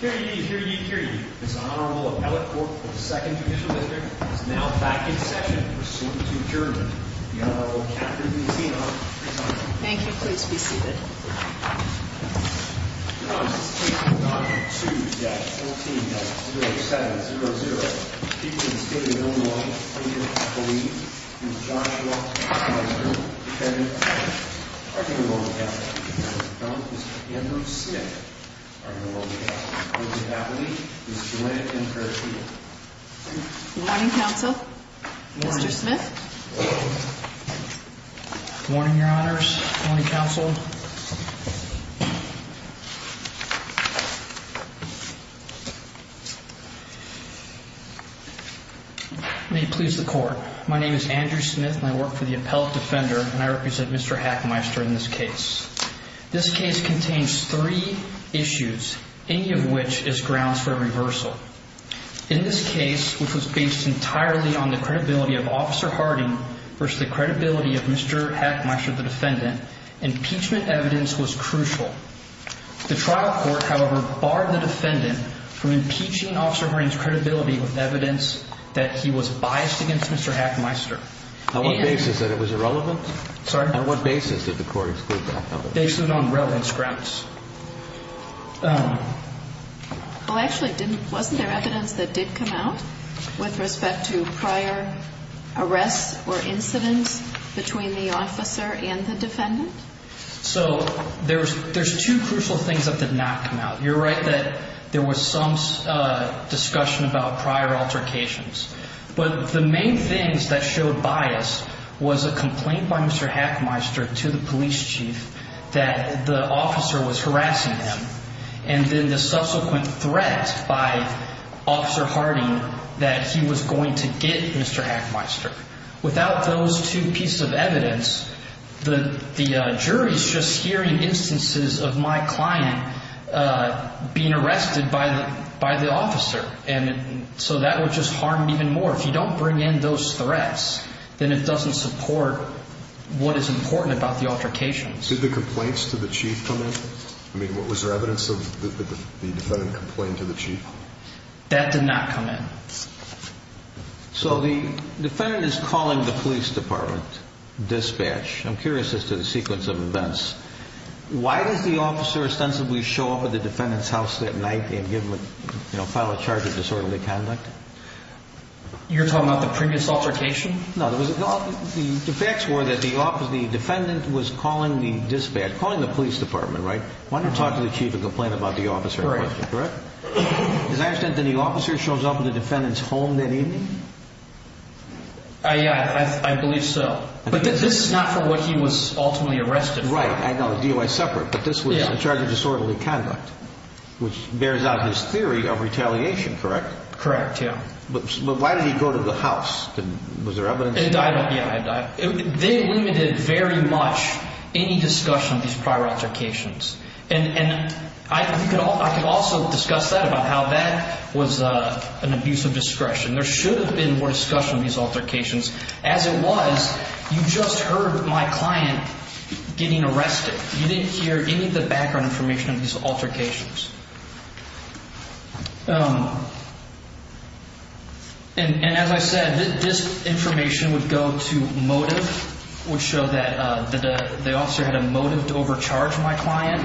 Here ye, here ye, here ye. This Honorable Appellate Court of the 2nd Judicial District is now back in session pursuant to adjournment. The Honorable Catherine Buzino, presiding. Thank you. Please be seated. Your Honor, this case is Number 2-14-07-0-0. The defendants, David Milne-Wallace, Lincoln, Colleen, and Joshua Hachmeister, defendants, are to be rolled together. Mr. Andrew Smith, are to be rolled together. Ms. Gaffney, Ms. Gallant, and Ms. Carrasquillo. Morning, Counsel. Mr. Smith. Morning, Your Honors. Morning, Counsel. May it please the Court. My name is Andrew Smith, and I work for the Appellate Defender, and I represent Mr. Hachmeister in this case. This case contains three issues, any of which is grounds for a reversal. In this case, which was based entirely on the credibility of Officer Harding versus the credibility of Mr. Hachmeister, the defendant, impeachment evidence was crucial. The trial court, however, barred the defendant from impeaching Officer Harding's credibility with evidence that he was biased against Mr. Hachmeister. On what basis that it was irrelevant? Sorry? On what basis did the Court exclude that? Based on relevance grounds. Well, actually, wasn't there evidence that did come out with respect to prior arrests or incidents between the officer and the defendant? So there's two crucial things that did not come out. You're right that there was some discussion about prior altercations. But the main things that showed bias was a complaint by Mr. Hachmeister to the police chief that the officer was harassing him, and then the subsequent threat by Officer Harding that he was going to get Mr. Hachmeister. Without those two pieces of evidence, the jury's just hearing instances of my client being arrested by the officer. And so that would just harm even more. If you don't bring in those threats, then it doesn't support what is important about the altercations. Did the complaints to the chief come in? I mean, was there evidence of the defendant complained to the chief? That did not come in. So the defendant is calling the police department, dispatch. I'm curious as to the sequence of events. Why does the officer ostensibly show up at the defendant's house that night and file a charge of disorderly conduct? You're talking about the previous altercation? No, the facts were that the defendant was calling the dispatch, calling the police department, right? Why not talk to the chief and complain about the officer? Correct. Does that mean the officer shows up at the defendant's home that evening? Yeah, I believe so. But this is not for what he was ultimately arrested for. Right, I know. The DOI is separate, but this was a charge of disorderly conduct, which bears out his theory of retaliation, correct? Correct, yeah. But why did he go to the house? Was there evidence? They limited very much any discussion of these prior altercations. And I can also discuss that, about how that was an abuse of discretion. There should have been more discussion of these altercations. As it was, you just heard my client getting arrested. You didn't hear any of the background information of these altercations. And as I said, this information would go to motive, which showed that the officer had a motive to overcharge my client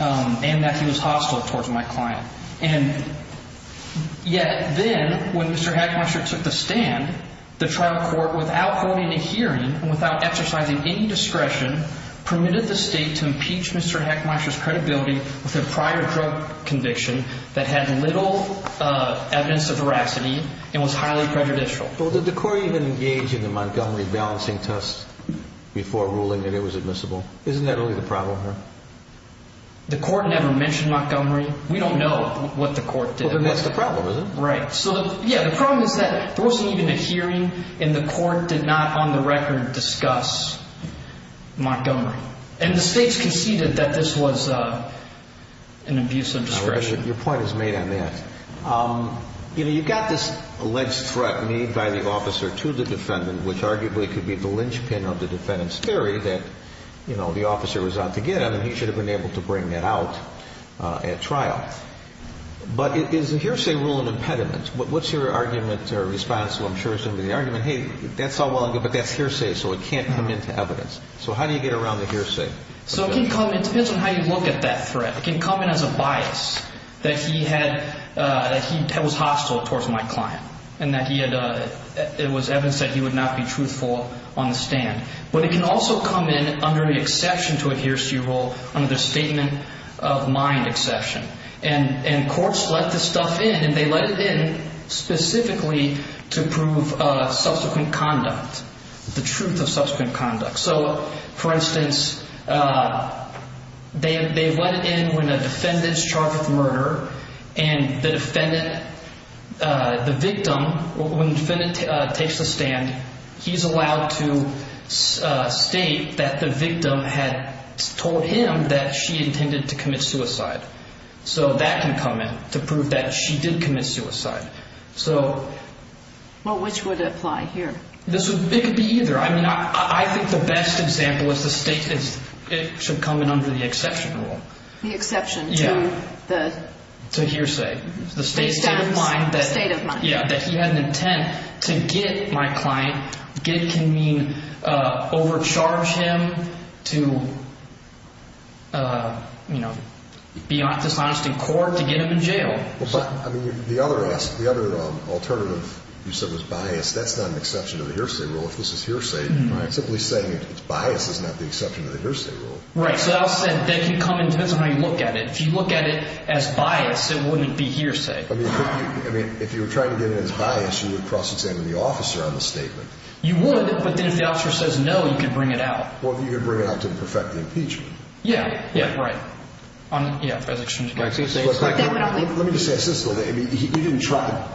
and that he was hostile towards my client. And yet then, when Mr. Heckmeister took the stand, the trial court, without holding a hearing and without exercising any discretion, permitted the state to impeach Mr. Heckmeister's credibility with a prior drug conviction that had little evidence of veracity and was highly prejudicial. Well, did the court even engage in the Montgomery balancing test before ruling that it was admissible? Isn't that only the problem here? The court never mentioned Montgomery. We don't know what the court did. Well, that's the problem, isn't it? Right. So, yeah, the problem is that there wasn't even a hearing and the court did not, on the record, discuss Montgomery. And the states conceded that this was an abuse of discretion. Your point is made on that. You know, you've got this alleged threat made by the officer to the defendant, which arguably could be the linchpin of the defendant's theory that, you know, the officer was out to get him and he should have been able to bring that out at trial. But is a hearsay rule an impediment? What's your argument or response to, I'm sure, some of the argument? Hey, that's all well and good, but that's hearsay, so it can't come into evidence. So how do you get around the hearsay? So it can come in. It depends on how you look at that threat. It can come in as a bias, that he had, that he was hostile towards my client, and that he had, it was evidence that he would not be truthful on the stand. But it can also come in under the exception to a hearsay rule, under the statement of mind exception. And courts let this stuff in, and they let it in specifically to prove subsequent conduct, the truth of subsequent conduct. So, for instance, they let it in when a defendant's charged with murder, and the defendant, the victim, when the defendant takes the stand, he's allowed to state that the victim had told him that she intended to commit suicide. So that can come in to prove that she did commit suicide. Well, which would apply here? It could be either. I mean, I think the best example is the statement, it should come in under the exception rule. The exception to the? To hearsay. Based on the state of mind. Yeah, that he had an intent to get my client. Get can mean overcharge him to, you know, beyond dishonest in court, to get him in jail. I mean, the other alternative you said was bias. That's not an exception to the hearsay rule. If this is hearsay, simply saying it's bias is not the exception to the hearsay rule. Right. So that said, they can come in, depends on how you look at it. If you look at it as bias, it wouldn't be hearsay. I mean, if you were trying to get it as bias, you would cross-examine the officer on the statement. You would, but then if the officer says no, you could bring it out. Well, you could bring it out to perfect the impeachment. Yeah, yeah, right. Let me just say this, though. You didn't try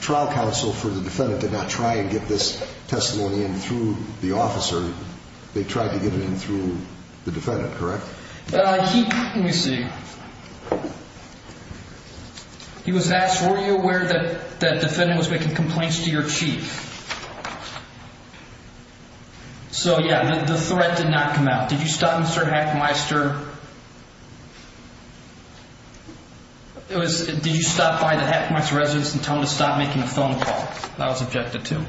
trial counsel for the defendant to not try and get this testimony in through the officer. They tried to get it in through the defendant, correct? Let me see. He was asked, were you aware that the defendant was making complaints to your chief? So, yeah, the threat did not come out. Did you stop Mr. Hackmeister? Did you stop by the Hackmeister residence and tell him to stop making a phone call? That was objected to.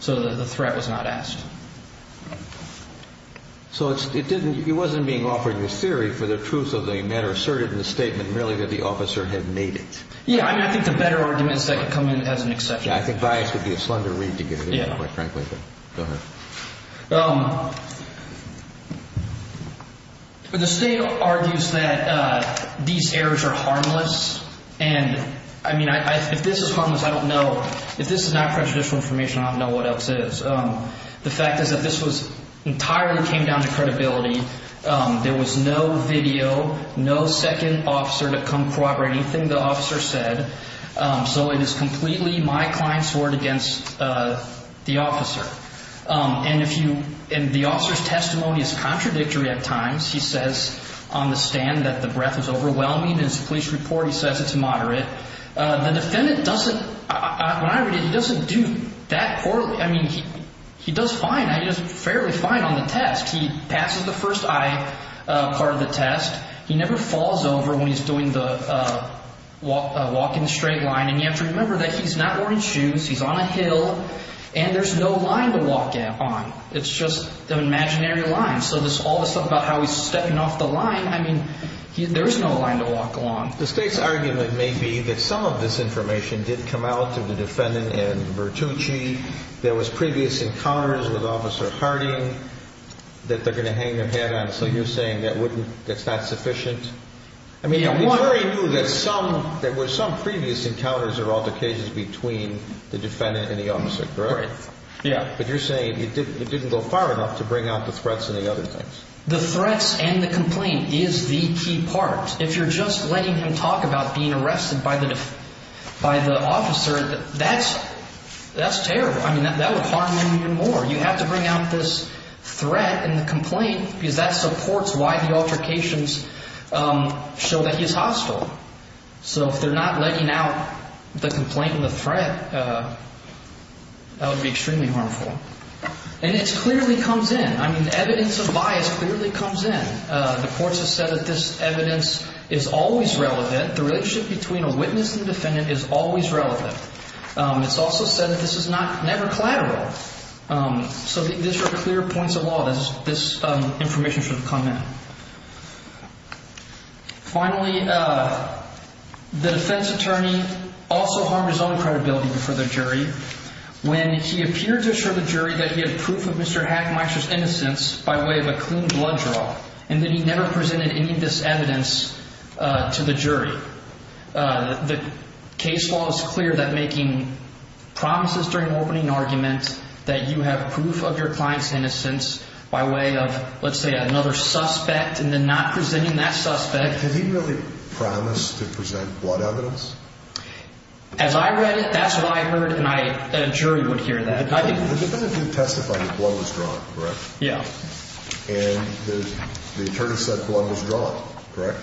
So the threat was not asked. So it wasn't being offered as theory for the truth of the matter asserted in the statement merely that the officer had made it. Yeah, I mean, I think the better arguments that could come in as an exception. I think bias would be a slender read to get it in there, quite frankly. Go ahead. The state argues that these errors are harmless. And, I mean, if this is harmless, I don't know. If this is not prejudicial information, I don't know what else is. The fact is that this entirely came down to credibility. There was no video, no second officer to come corroborate anything the officer said. So it is completely my client's word against the officer. And the officer's testimony is contradictory at times. He says on the stand that the breath is overwhelming. In his police report, he says it's moderate. The defendant doesn't, when I read it, he doesn't do that poorly. I mean, he does fine. He does fairly fine on the test. He passes the first I part of the test. He never falls over when he's doing the walking straight line. And you have to remember that he's not wearing shoes. He's on a hill. And there's no line to walk on. It's just an imaginary line. So all this stuff about how he's stepping off the line, I mean, there is no line to walk on. The state's argument may be that some of this information did come out to the defendant in Bertucci. There was previous encounters with Officer Harding that they're going to hang their head on. So you're saying that's not sufficient? I mean, the jury knew that there were some previous encounters or altercations between the defendant and the officer, correct? Yeah. But you're saying it didn't go far enough to bring out the threats and the other things. The threats and the complaint is the key part. If you're just letting him talk about being arrested by the officer, that's terrible. I mean, that would harm him even more. You have to bring out this threat and the complaint because that supports why the altercations show that he's hostile. So if they're not letting out the complaint and the threat, that would be extremely harmful. And it clearly comes in. I mean, evidence of bias clearly comes in. The courts have said that this evidence is always relevant. The relationship between a witness and defendant is always relevant. It's also said that this is never collateral. So these are clear points of law. This information should come in. Finally, the defense attorney also harmed his own credibility before the jury when he appeared to assure the jury that he had proof of Mr. Hackmeister's innocence by way of a clean blood draw and that he never presented any of this evidence to the jury. The case law is clear that making promises during an opening argument that you have proof of your client's innocence by way of, let's say, another suspect and then not presenting that suspect. Did he really promise to present blood evidence? As I read it, that's what I heard, and a jury would hear that. The defendant did testify that blood was drawn, correct? Yeah. And the attorney said blood was drawn, correct?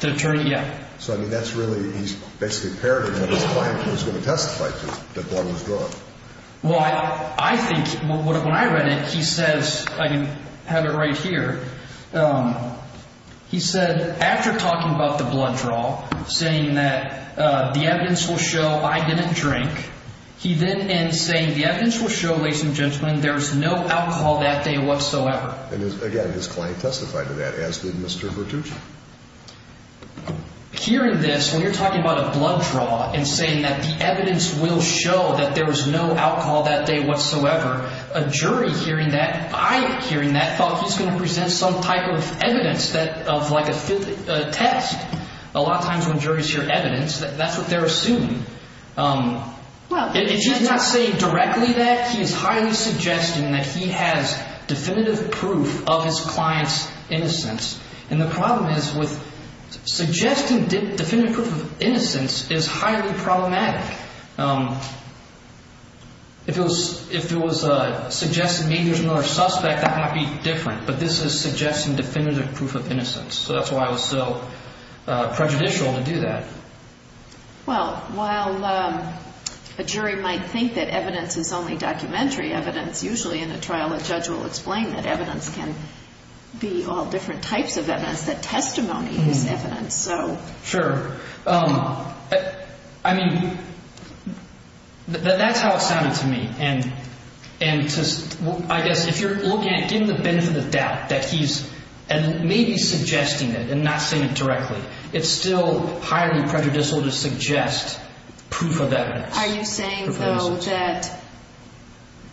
The attorney, yeah. So, I mean, that's really, he basically parodied what his client was going to testify to, that blood was drawn. Well, I think, when I read it, he says, I have it right here. He said, after talking about the blood draw, saying that the evidence will show I didn't drink, he then ends saying the evidence will show, ladies and gentlemen, there was no alcohol that day whatsoever. And, again, his client testified to that, as did Mr. Bertucci. Hearing this, when you're talking about a blood draw and saying that the evidence will show that there was no alcohol that day whatsoever, a jury hearing that, I hearing that, thought he was going to present some type of evidence of like a fifth test. A lot of times when juries hear evidence, that's what they're assuming. If he's not saying directly that, he's highly suggesting that he has definitive proof of his client's innocence. And the problem is with suggesting definitive proof of innocence is highly problematic. If it was suggesting maybe there's another suspect, that might be different. But this is suggesting definitive proof of innocence. So that's why it was so prejudicial to do that. Well, while a jury might think that evidence is only documentary evidence, usually in a trial a judge will explain that evidence can be all different types of evidence, that testimony is evidence. Sure. I mean, that's how it sounded to me. I guess if you're looking at getting the benefit of the doubt that he's maybe suggesting it and not saying it directly, it's still highly prejudicial to suggest proof of evidence. Are you saying, though, that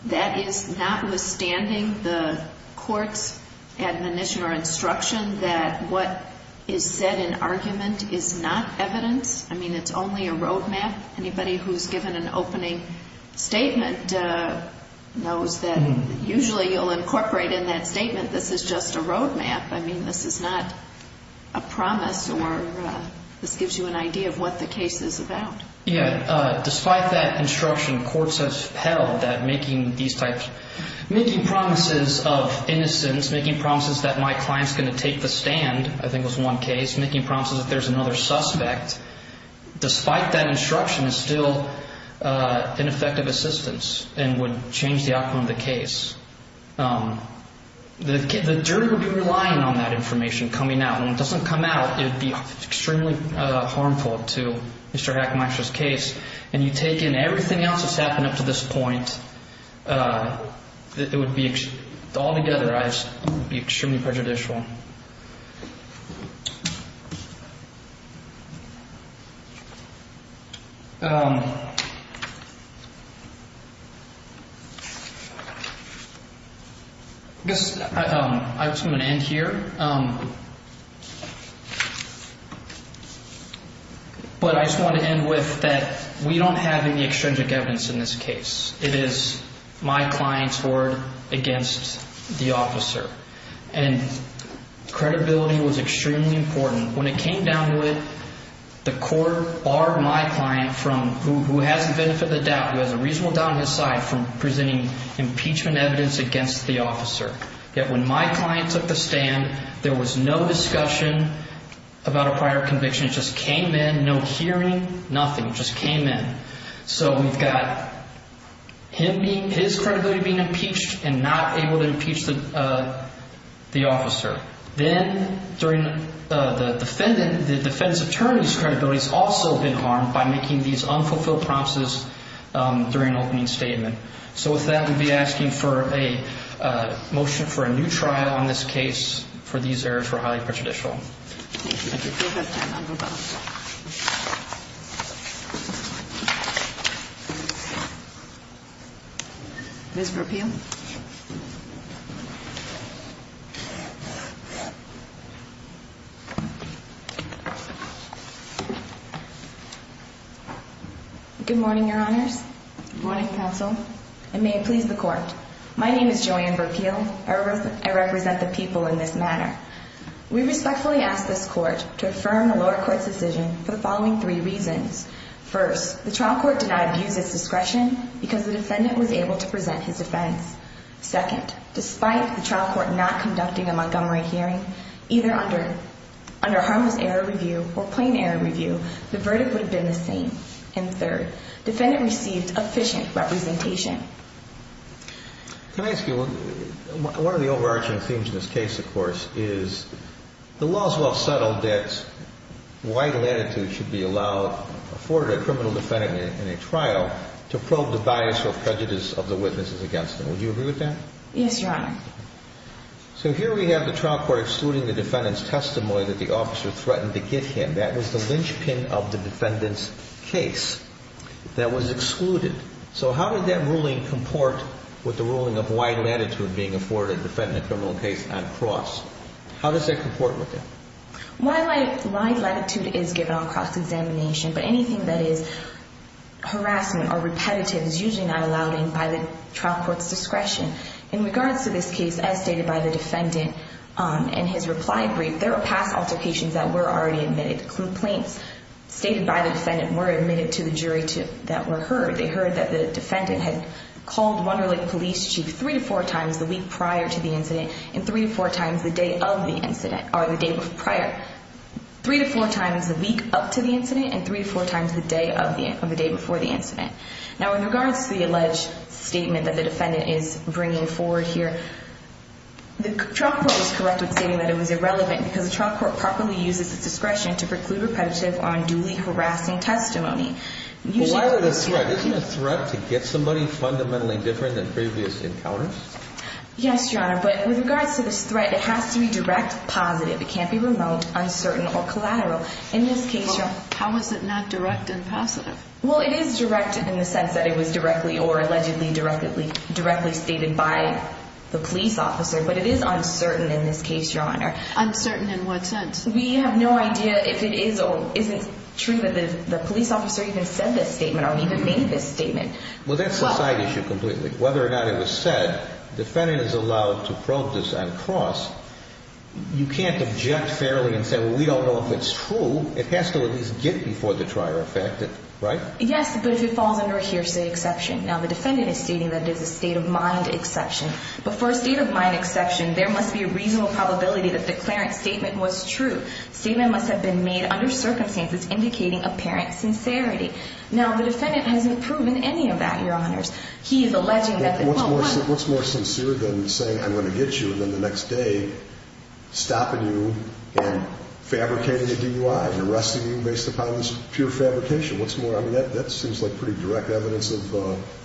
that is notwithstanding the court's admonition or instruction that what is said in argument is not evidence? I mean, it's only a roadmap. Anybody who's given an opening statement knows that usually you'll incorporate in that statement this is just a roadmap. I mean, this is not a promise or this gives you an idea of what the case is about. Yeah. Despite that instruction, courts have held that making promises of innocence, making promises that my client's going to take the stand, I think was one case, making promises that there's another suspect, despite that instruction is still ineffective assistance and would change the outcome of the case. The jury would be relying on that information coming out. When it doesn't come out, it would be extremely harmful to Mr. Hackenmeister's case. And you take in everything else that's happened up to this point, it would be altogether extremely prejudicial. I'm just going to end here. But I just want to end with that. We don't have any extrinsic evidence in this case. It is my client's word against the officer. And credibility was extremely important. When it came down to it, the court barred my client, who has the benefit of the doubt, who has a reasonable doubt on his side, from presenting impeachment evidence against the officer. Yet when my client took the stand, there was no discussion about a prior conviction. It just came in, no hearing, nothing. It just came in. So we've got his credibility being impeached and not able to impeach the officer. Then during the defendant, the defense attorney's credibility has also been harmed by making these unfulfilled promises during an opening statement. So with that, we'd be asking for a motion for a new trial on this case for these errors were highly prejudicial. Thank you. If you have time, I'll go back. Ms. Burpeel. Good morning, Your Honors. Good morning, Counsel. And may it please the Court. My name is Joanne Burpeel. I represent the people in this manner. We respectfully ask this Court to affirm the lower court's decision for the following three reasons. First, the trial court did not abuse its discretion because the defendant was able to present his defense. Second, despite the trial court not conducting a Montgomery hearing, either under harmless error review or plain error review, the verdict would have been the same. And third, defendant received efficient representation. Can I ask you, one of the overarching themes in this case, of course, is the law is well settled that white latitude should be allowed for a criminal defendant in a trial to probe the bias or prejudice of the witnesses against them. Would you agree with that? Yes, Your Honor. So here we have the trial court excluding the defendant's testimony that the officer threatened to give him. That was the linchpin of the defendant's case that was excluded. So how does that ruling comport with the ruling of white latitude being afforded to defend a criminal case on cross? How does that comport with that? White latitude is given on cross-examination, but anything that is harassment or repetitive is usually not allowed in by the trial court's discretion. In regards to this case, as stated by the defendant in his reply brief, there were past altercations that were already admitted. Complaints stated by the defendant were admitted to the jury that were heard. They heard that the defendant had called Wunderlich police chief three to four times the week prior to the incident and three to four times the day of the incident, or the day prior. Three to four times the week up to the incident and three to four times the day before the incident. Now, in regards to the alleged statement that the defendant is bringing forward here, the trial court was correct in stating that it was irrelevant because the trial court properly uses its discretion to preclude repetitive or unduly harassing testimony. Isn't it a threat to get somebody fundamentally different than previous encounters? Yes, Your Honor, but with regards to this threat, it has to be direct, positive. It can't be remote, uncertain, or collateral. In this case, Your Honor. How is it not direct and positive? Well, it is direct in the sense that it was directly or allegedly directly stated by the police officer, but it is uncertain in this case, Your Honor. Uncertain in what sense? We have no idea if it is or isn't true that the police officer even said this statement or even made this statement. Well, that's a side issue completely. Whether or not it was said, the defendant is allowed to probe this on cross. You can't object fairly and say, well, we don't know if it's true. It has to at least get before the trier of fact, right? Yes, but if it falls under a hearsay exception. Now, the defendant is stating that it is a state of mind exception. But for a state of mind exception, there must be a reasonable probability that the declarant's statement was true. Statement must have been made under circumstances indicating apparent sincerity. Now, the defendant hasn't proven any of that, Your Honors. He is alleging that... What's more sincere than saying I'm going to get you and then the next day stopping you and fabricating a DUI and arresting you based upon this pure fabrication? What's more, I mean, that seems like pretty direct evidence of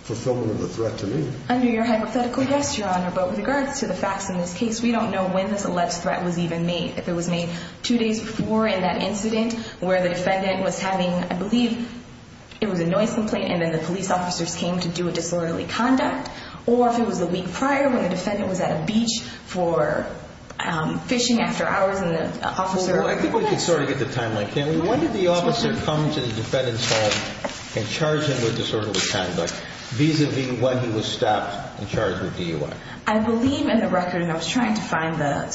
fulfillment of the threat to me. Under your hypothetical, yes, Your Honor. But with regards to the facts in this case, we don't know when this alleged threat was even made. If it was made two days before in that incident where the defendant was having, I believe, it was a noise complaint and then the police officers came to do a disorderly conduct. Or if it was the week prior when the defendant was at a beach for fishing after hours and the officer... ...and charged him with disorderly conduct vis-a-vis when he was stopped and charged with DUI. I believe in the record, and I was trying to find the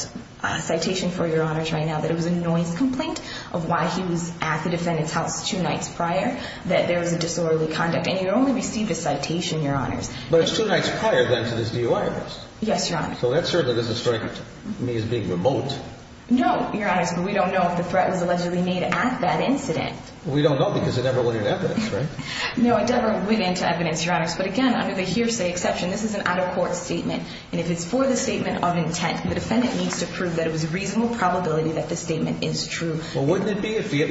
citation for Your Honors right now, that it was a noise complaint of why he was at the defendant's house two nights prior that there was a disorderly conduct. And you only received a citation, Your Honors. But it's two nights prior then to this DUI arrest. Yes, Your Honor. So that certainly doesn't strike me as being remote. No, Your Honors, but we don't know if the threat was allegedly made at that incident. We don't know because it never went into evidence, right? No, it never went into evidence, Your Honors. But again, under the hearsay exception, this is an out-of-court statement. And if it's for the statement of intent, the defendant needs to prove that it was a reasonable probability that the statement is true. Well, wouldn't it be if he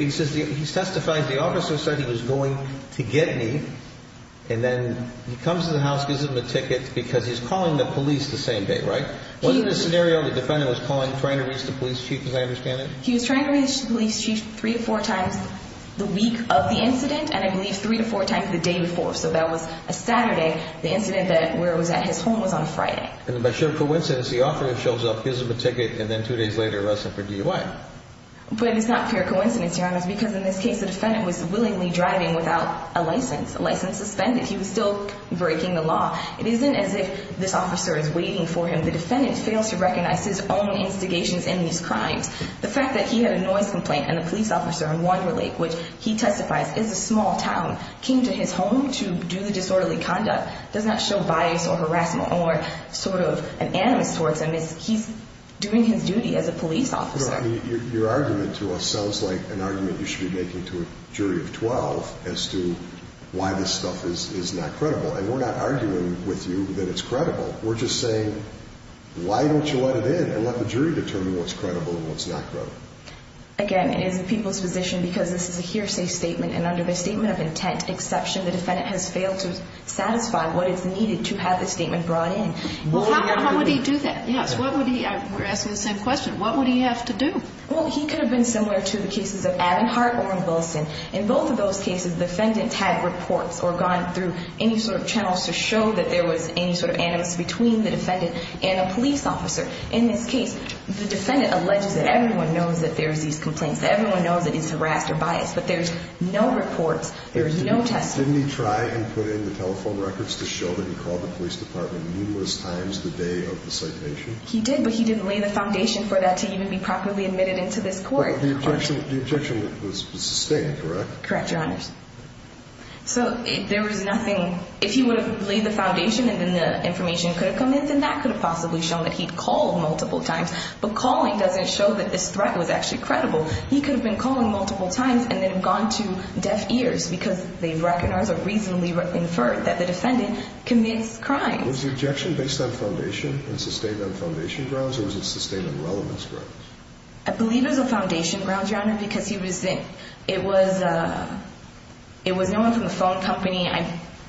testified, the officer said he was going to get me, and then he comes to the house, gives him a ticket because he's calling the police the same day, right? Wasn't the scenario the defendant was calling, trying to reach the police chief, as I understand it? He was trying to reach the police chief three or four times the week of the incident, and I believe three to four times the day before. So that was a Saturday. The incident where it was at his home was on a Friday. And by sheer coincidence, the officer shows up, gives him a ticket, and then two days later arrests him for DUI. But it's not pure coincidence, Your Honors, because in this case, the defendant was willingly driving without a license, a license suspended. He was still breaking the law. It isn't as if this officer is waiting for him. The defendant fails to recognize his own instigations in these crimes. The fact that he had a noise complaint and a police officer in Wander Lake, which he testifies is a small town, came to his home to do the disorderly conduct does not show bias or harassment or sort of an animus towards him. He's doing his duty as a police officer. Your argument to us sounds like an argument you should be making to a jury of 12 as to why this stuff is not credible. And we're not arguing with you that it's credible. We're just saying, why don't you let it in and let the jury determine what's credible and what's not credible? Again, it is the people's position because this is a hearsay statement, and under the statement of intent exception, the defendant has failed to satisfy what is needed to have the statement brought in. Well, how would he do that? Yes, what would he – we're asking the same question. What would he have to do? Well, he could have been similar to the cases of Abinhart or Wilson. In both of those cases, the defendant had reports or gone through any sort of channels to show that there was any sort of animus between the defendant and a police officer. In this case, the defendant alleges that everyone knows that there's these complaints, that everyone knows that it's harassment or bias, but there's no reports, there's no testimony. Didn't he try and put in the telephone records to show that he called the police department numerous times the day of the citation? He did, but he didn't lay the foundation for that to even be properly admitted into this court. But the objection was sustained, correct? Correct, Your Honors. So there was nothing – if he would have laid the foundation and then the information could have come in, then that could have possibly shown that he'd called multiple times. But calling doesn't show that this threat was actually credible. He could have been calling multiple times and then gone to deaf ears because they've recognized or reasonably inferred that the defendant commits crimes. Was the objection based on foundation and sustained on foundation grounds, or was it sustained on relevance grounds? I believe it was on foundation grounds, Your Honor, because he was – it was no one from the phone company.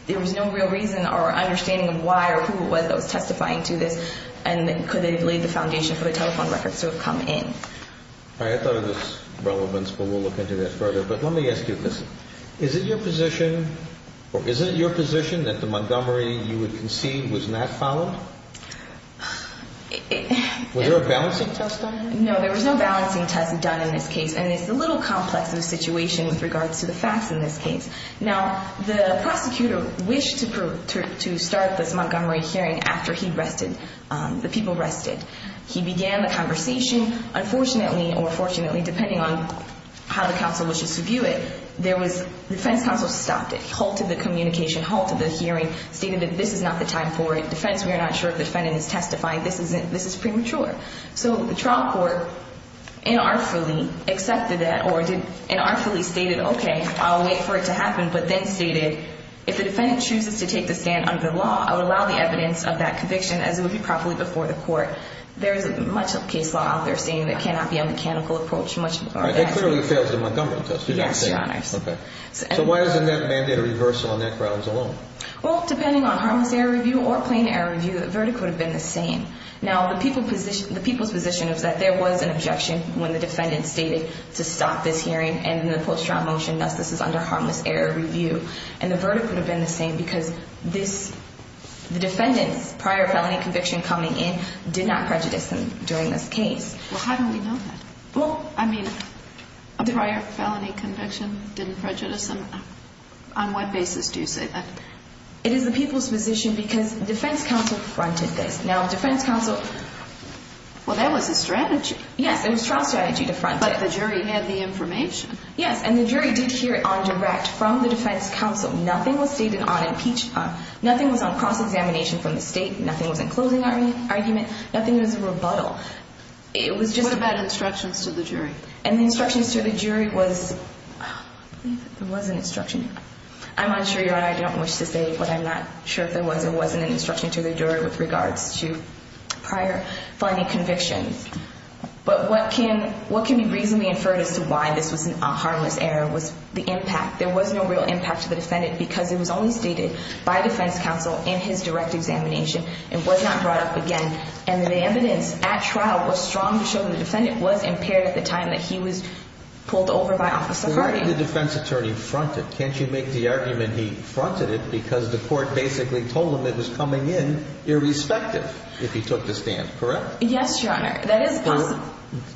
There was no real reason or understanding of why or who it was that was testifying to this. And could they have laid the foundation for the telephone records to have come in? All right, I thought of this relevance, but we'll look into that further. But let me ask you this. Is it your position – or is it your position that the Montgomery you would concede was not followed? Was there a balancing test on it? No, there was no balancing test done in this case, and it's a little complex of a situation with regards to the facts in this case. Now, the prosecutor wished to start this Montgomery hearing after he rested – the people rested. He began the conversation. Unfortunately or fortunately, depending on how the counsel wishes to view it, there was – the defense counsel stopped it. He halted the communication, halted the hearing, stated that this is not the time for a defense. We are not sure if the defendant is testifying. This isn't – this is premature. So the trial court inartfully accepted that or did – inartfully stated, okay, I'll wait for it to happen, but then stated, if the defendant chooses to take the stand under the law, I would allow the evidence of that conviction as it would be properly before the court. There is much of the case law out there stating that it cannot be a mechanical approach, much – All right, that clearly fails the Montgomery test, did I say? Yes, Your Honors. Okay. So why isn't that mandate a reversal on that grounds alone? Well, depending on harmless error review or plain error review, the verdict would have been the same. Now, the people's position is that there was an objection when the defendant stated to stop this hearing and in the post-trial motion thus this is under harmless error review. And the verdict would have been the same because this – the defendant's prior felony conviction coming in did not prejudice him during this case. Well, how do we know that? Well, I mean, a prior felony conviction didn't prejudice him. On what basis do you say that? It is the people's position because defense counsel fronted this. Now, defense counsel – Well, that was a strategy. Yes, it was trial strategy to front this. But the jury had the information. Yes, and the jury did hear it on direct from the defense counsel. Nothing was stated on impeachment. Nothing was on cross-examination from the state. Nothing was in closing argument. Nothing was a rebuttal. It was just – What about instructions to the jury? And the instructions to the jury was – there was an instruction. I'm unsure, Your Honor. I don't wish to say, but I'm not sure if there was or wasn't an instruction to the jury with regards to prior felony convictions. But what can – what can be reasonably inferred as to why this was a harmless error was the impact. There was no real impact to the defendant because it was only stated by defense counsel in his direct examination. It was not brought up again. And the evidence at trial was strong to show the defendant was impaired at the time that he was pulled over by Office of Harding. Why did the defense attorney front it? Can't you make the argument he fronted it because the court basically told him it was coming in irrespective if he took the stand, correct? Yes, Your Honor. That is possible.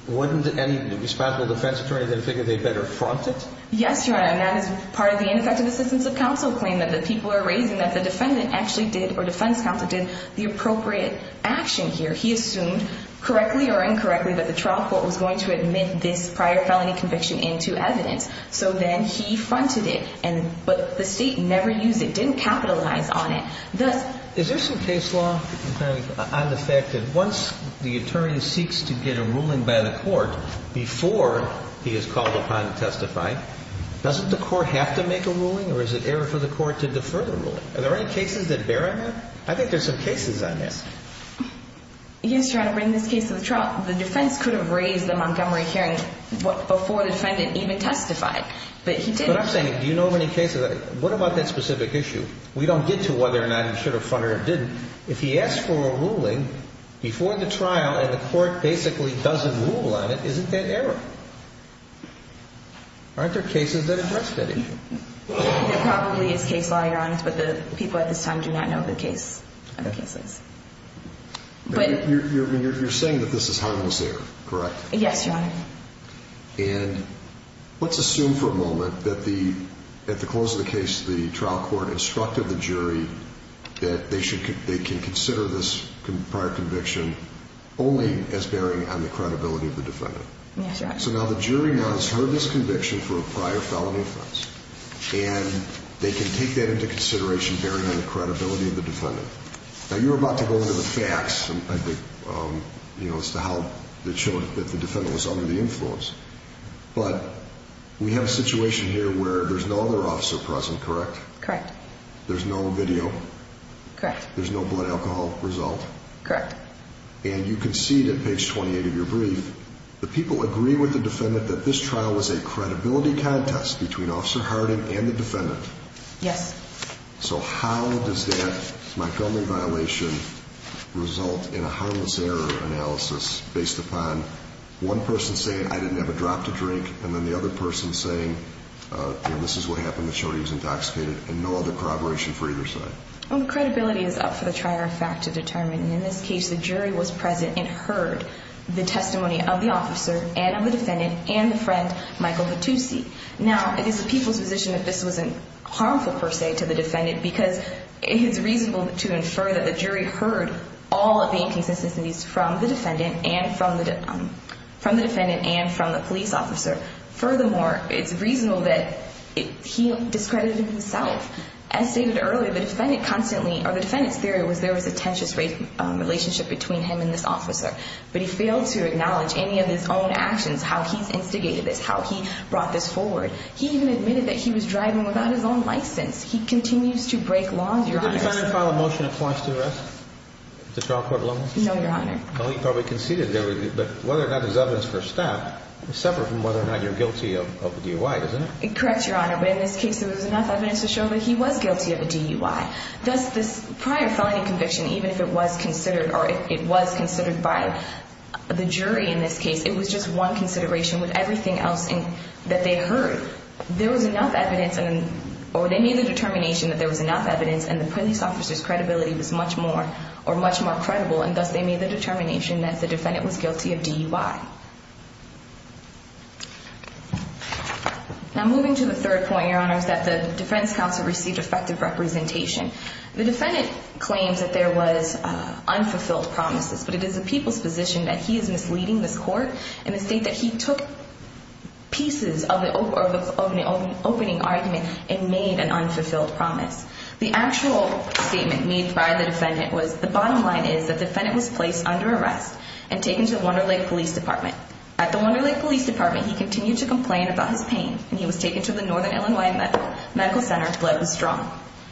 Wouldn't any responsible defense attorney then figure they better front it? Yes, Your Honor, and that is part of the ineffective assistance of counsel claim that the people are raising that the defendant actually did or defense counsel did the appropriate action here. He assumed correctly or incorrectly that the trial court was going to admit this prior felony conviction into evidence. So then he fronted it, but the State never used it, didn't capitalize on it. Is there some case law on the fact that once the attorney seeks to get a ruling by the court before he is called upon to testify, doesn't the court have to make a ruling or is it error for the court to defer the ruling? Are there any cases that bear on that? I think there's some cases on this. Yes, Your Honor. The defense could have raised the Montgomery hearing before the defendant even testified, but he didn't. But I'm saying do you know of any cases? What about that specific issue? We don't get to whether or not he should have fronted it or didn't. If he asks for a ruling before the trial and the court basically doesn't rule on it, isn't that error? Aren't there cases that address that issue? There probably is case law, Your Honor, but the people at this time do not know the case of cases. You're saying that this is harmless error, correct? Yes, Your Honor. And let's assume for a moment that at the close of the case the trial court instructed the jury that they can consider this prior conviction only as bearing on the credibility of the defendant. Yes, Your Honor. So now the jury now has heard this conviction for a prior felony offense, and they can take that into consideration bearing on the credibility of the defendant. Now, you were about to go into the facts, I think, as to how it showed that the defendant was under the influence. But we have a situation here where there's no other officer present, correct? Correct. There's no video? Correct. There's no blood alcohol result? Correct. And you concede at page 28 of your brief, the people agree with the defendant that this trial was a credibility contest between Officer Hardin and the defendant. Yes. So how does that Montgomery violation result in a harmless error analysis based upon one person saying, I didn't have a drop to drink, and then the other person saying, you know, this is what happened, the jury was intoxicated, and no other corroboration for either side? Well, the credibility is up for the trier of fact to determine. And in this case, the jury was present and heard the testimony of the officer and of the defendant and the friend, Michael Hattusi. Now, it is the people's position that this wasn't harmful per se to the defendant because it's reasonable to infer that the jury heard all of the inconsistencies from the defendant and from the police officer. Furthermore, it's reasonable that he discredited himself. As stated earlier, the defendant constantly, or the defendant's theory was there was a tensious relationship between him and this officer. But he failed to acknowledge any of his own actions, how he instigated this, how he brought this forward. He even admitted that he was driving without his own license. He continues to break laws, Your Honor. Did the defendant file a motion of points to arrest the trial court alone? No, Your Honor. Well, he probably conceded. But whether or not there's evidence for a stab is separate from whether or not you're guilty of a DUI, isn't it? Correct, Your Honor. But in this case, there was enough evidence to show that he was guilty of a DUI. Thus, this prior felony conviction, even if it was considered or it was considered by the jury in this case, it was just one consideration with everything else that they heard. There was enough evidence or they made the determination that there was enough evidence and the police officer's credibility was much more or much more credible. And thus, they made the determination that the defendant was guilty of DUI. Now, moving to the third point, Your Honor, is that the defense counsel received effective representation. The defendant claims that there was unfulfilled promises, but it is the people's position that he is misleading this court in the state that he took pieces of the opening argument and made an unfulfilled promise. The actual statement made by the defendant was, the bottom line is that the defendant was placed under arrest and taken to the Wonder Lake Police Department. At the Wonder Lake Police Department, he continued to complain about his pain, and he was taken to the Northern Illinois Medical Center, blood was drawn.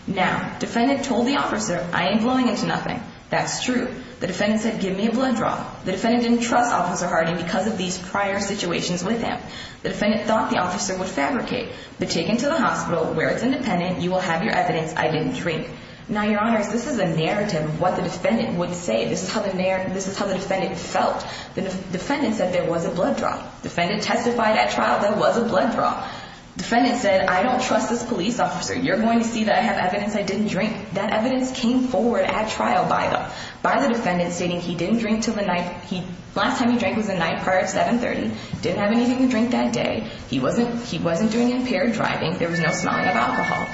Now, defendant told the officer, I ain't blowing into nothing. That's true. The defendant said, give me a blood draw. The defendant didn't trust Officer Harding because of these prior situations with him. The defendant thought the officer would fabricate, but taken to the hospital where it's independent, you will have your evidence I didn't drink. Now, Your Honor, this is a narrative of what the defendant would say. This is how the defendant felt. The defendant said there was a blood draw. Defendant testified at trial there was a blood draw. Defendant said, I don't trust this police officer. You're going to see that I have evidence I didn't drink. That evidence came forward at trial by the defendant, stating he didn't drink until the night. Last time he drank was the night prior at 730. Didn't have anything to drink that day. He wasn't doing impaired driving. There was no smelling of alcohol.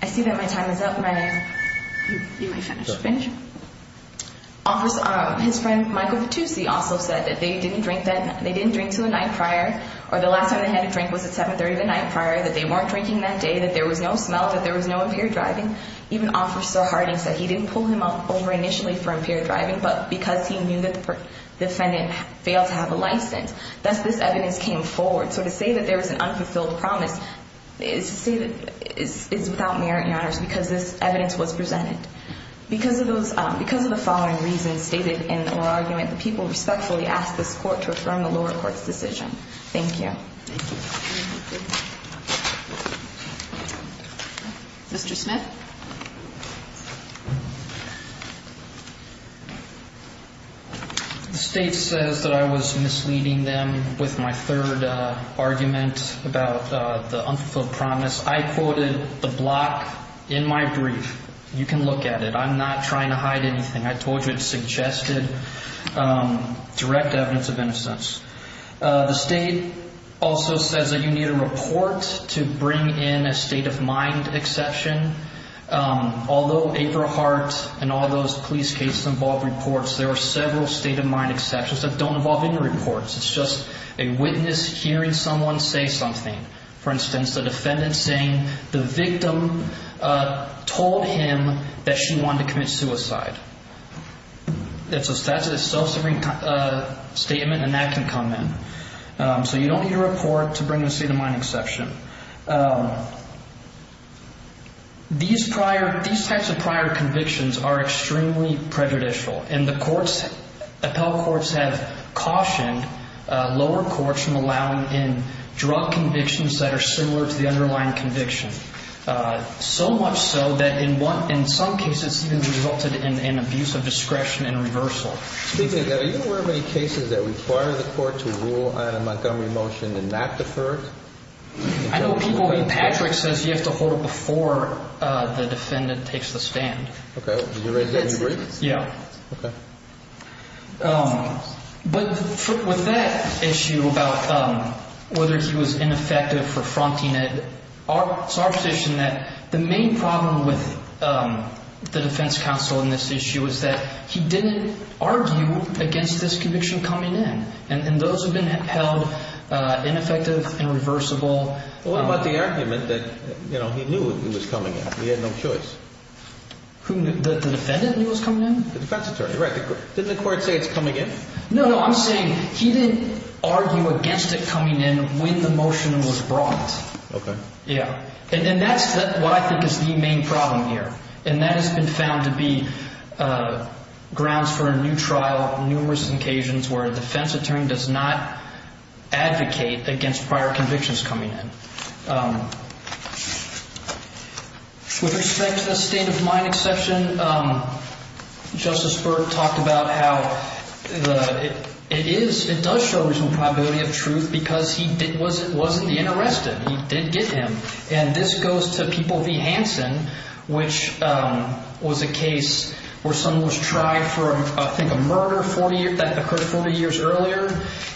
I see that my time is up. You may finish. Finish? Officer, his friend, Michael Patusi, also said that they didn't drink to the night prior, or the last time they had a drink was at 730 the night prior, that they weren't drinking that day, that there was no smell, that there was no impaired driving. Even Officer Harding said he didn't pull him up over initially for impaired driving, but because he knew that the defendant failed to have a license. Thus, this evidence came forward. So to say that there was an unfulfilled promise is to say that it's without merit and honors, because this evidence was presented. Because of the following reasons stated in the oral argument, the people respectfully ask this court to affirm the lower court's decision. Thank you. Mr. Smith? The state says that I was misleading them with my third argument about the unfulfilled promise. I quoted the block in my brief. You can look at it. I'm not trying to hide anything. I told you it suggested direct evidence of innocence. The state also says that you need a report to bring in a state-of-mind exception. Although April Hart and all those police cases involve reports, there are several state-of-mind exceptions that don't involve any reports. It's just a witness hearing someone say something. For instance, the defendant saying the victim told him that she wanted to commit suicide. It's a self-serving statement, and that can come in. So you don't need a report to bring in a state-of-mind exception. These types of prior convictions are extremely prejudicial, and the appellate courts have cautioned lower courts from allowing in drug convictions that are similar to the underlying conviction, so much so that in some cases it has resulted in abuse of discretion and reversal. Speaking of that, are you aware of any cases that require the court to rule on a Montgomery motion and not defer it? Patrick says you have to hold it before the defendant takes the stand. Did you raise that in your brief? Yeah. Okay. But with that issue about whether he was ineffective for fronting it, it's our position that the main problem with the defense counsel in this issue is that he didn't argue against this conviction coming in, and those have been held ineffective and reversible. Well, what about the argument that he knew it was coming in? He had no choice. The defendant knew it was coming in? The defense attorney, right. Didn't the court say it's coming in? No, no, I'm saying he didn't argue against it coming in when the motion was brought. Okay. Yeah. And that's what I think is the main problem here, and that has been found to be grounds for a new trial on numerous occasions where a defense attorney does not advocate against prior convictions coming in. With respect to the state of mind exception, Justice Burke talked about how it does show reasonable probability of truth because he wasn't interested. He did get him, and this goes to People v. Hansen, which was a case where someone was tried for, I think, a murder that occurred 40 years earlier,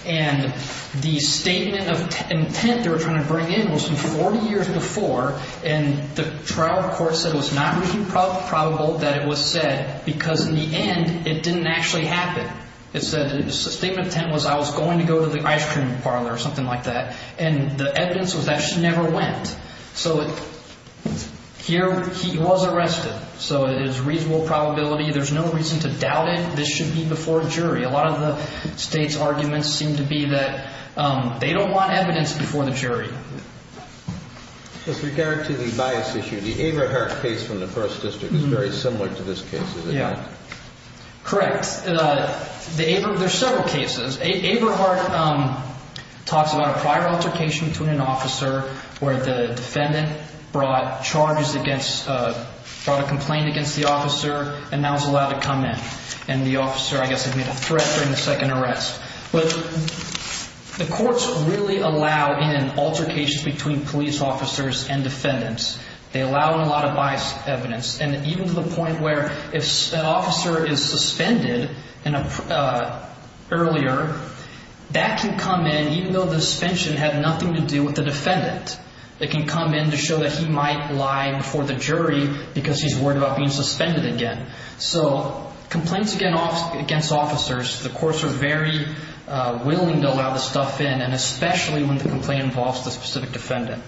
and the statement of intent they were trying to bring in was from 40 years before, and the trial court said it was not reasonable probable that it was said because, in the end, it didn't actually happen. It said the statement of intent was I was going to go to the ice cream parlor or something like that, and the evidence was that she never went. So here he was arrested, so it is reasonable probability. There's no reason to doubt it. This should be before a jury. A lot of the state's arguments seem to be that they don't want evidence before the jury. With regard to the bias issue, the Averhart case from the 1st District is very similar to this case, is it not? Yeah. Correct. There are several cases. Averhart talks about a prior altercation between an officer where the defendant brought charges against, brought a complaint against the officer and now is allowed to come in, and the officer, I guess, had made a threat during the second arrest. But the courts really allow in an altercation between police officers and defendants. They allow in a lot of bias evidence, and even to the point where if an officer is suspended earlier, that can come in even though the suspension had nothing to do with the defendant. It can come in to show that he might lie before the jury because he's worried about being suspended again. So complaints against officers, the courts are very willing to allow this stuff in, and especially when the complaint involves the specific defendant.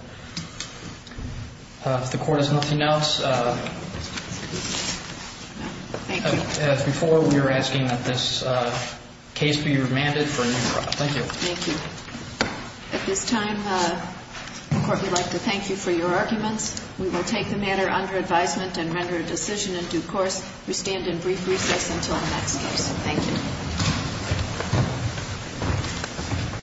If the Court has nothing else, as before, we are asking that this case be remanded for a new trial. Thank you. Thank you. At this time, the Court would like to thank you for your arguments. We will take the matter under advisement and render a decision in due course. We stand in brief recess until our next case. Thank you.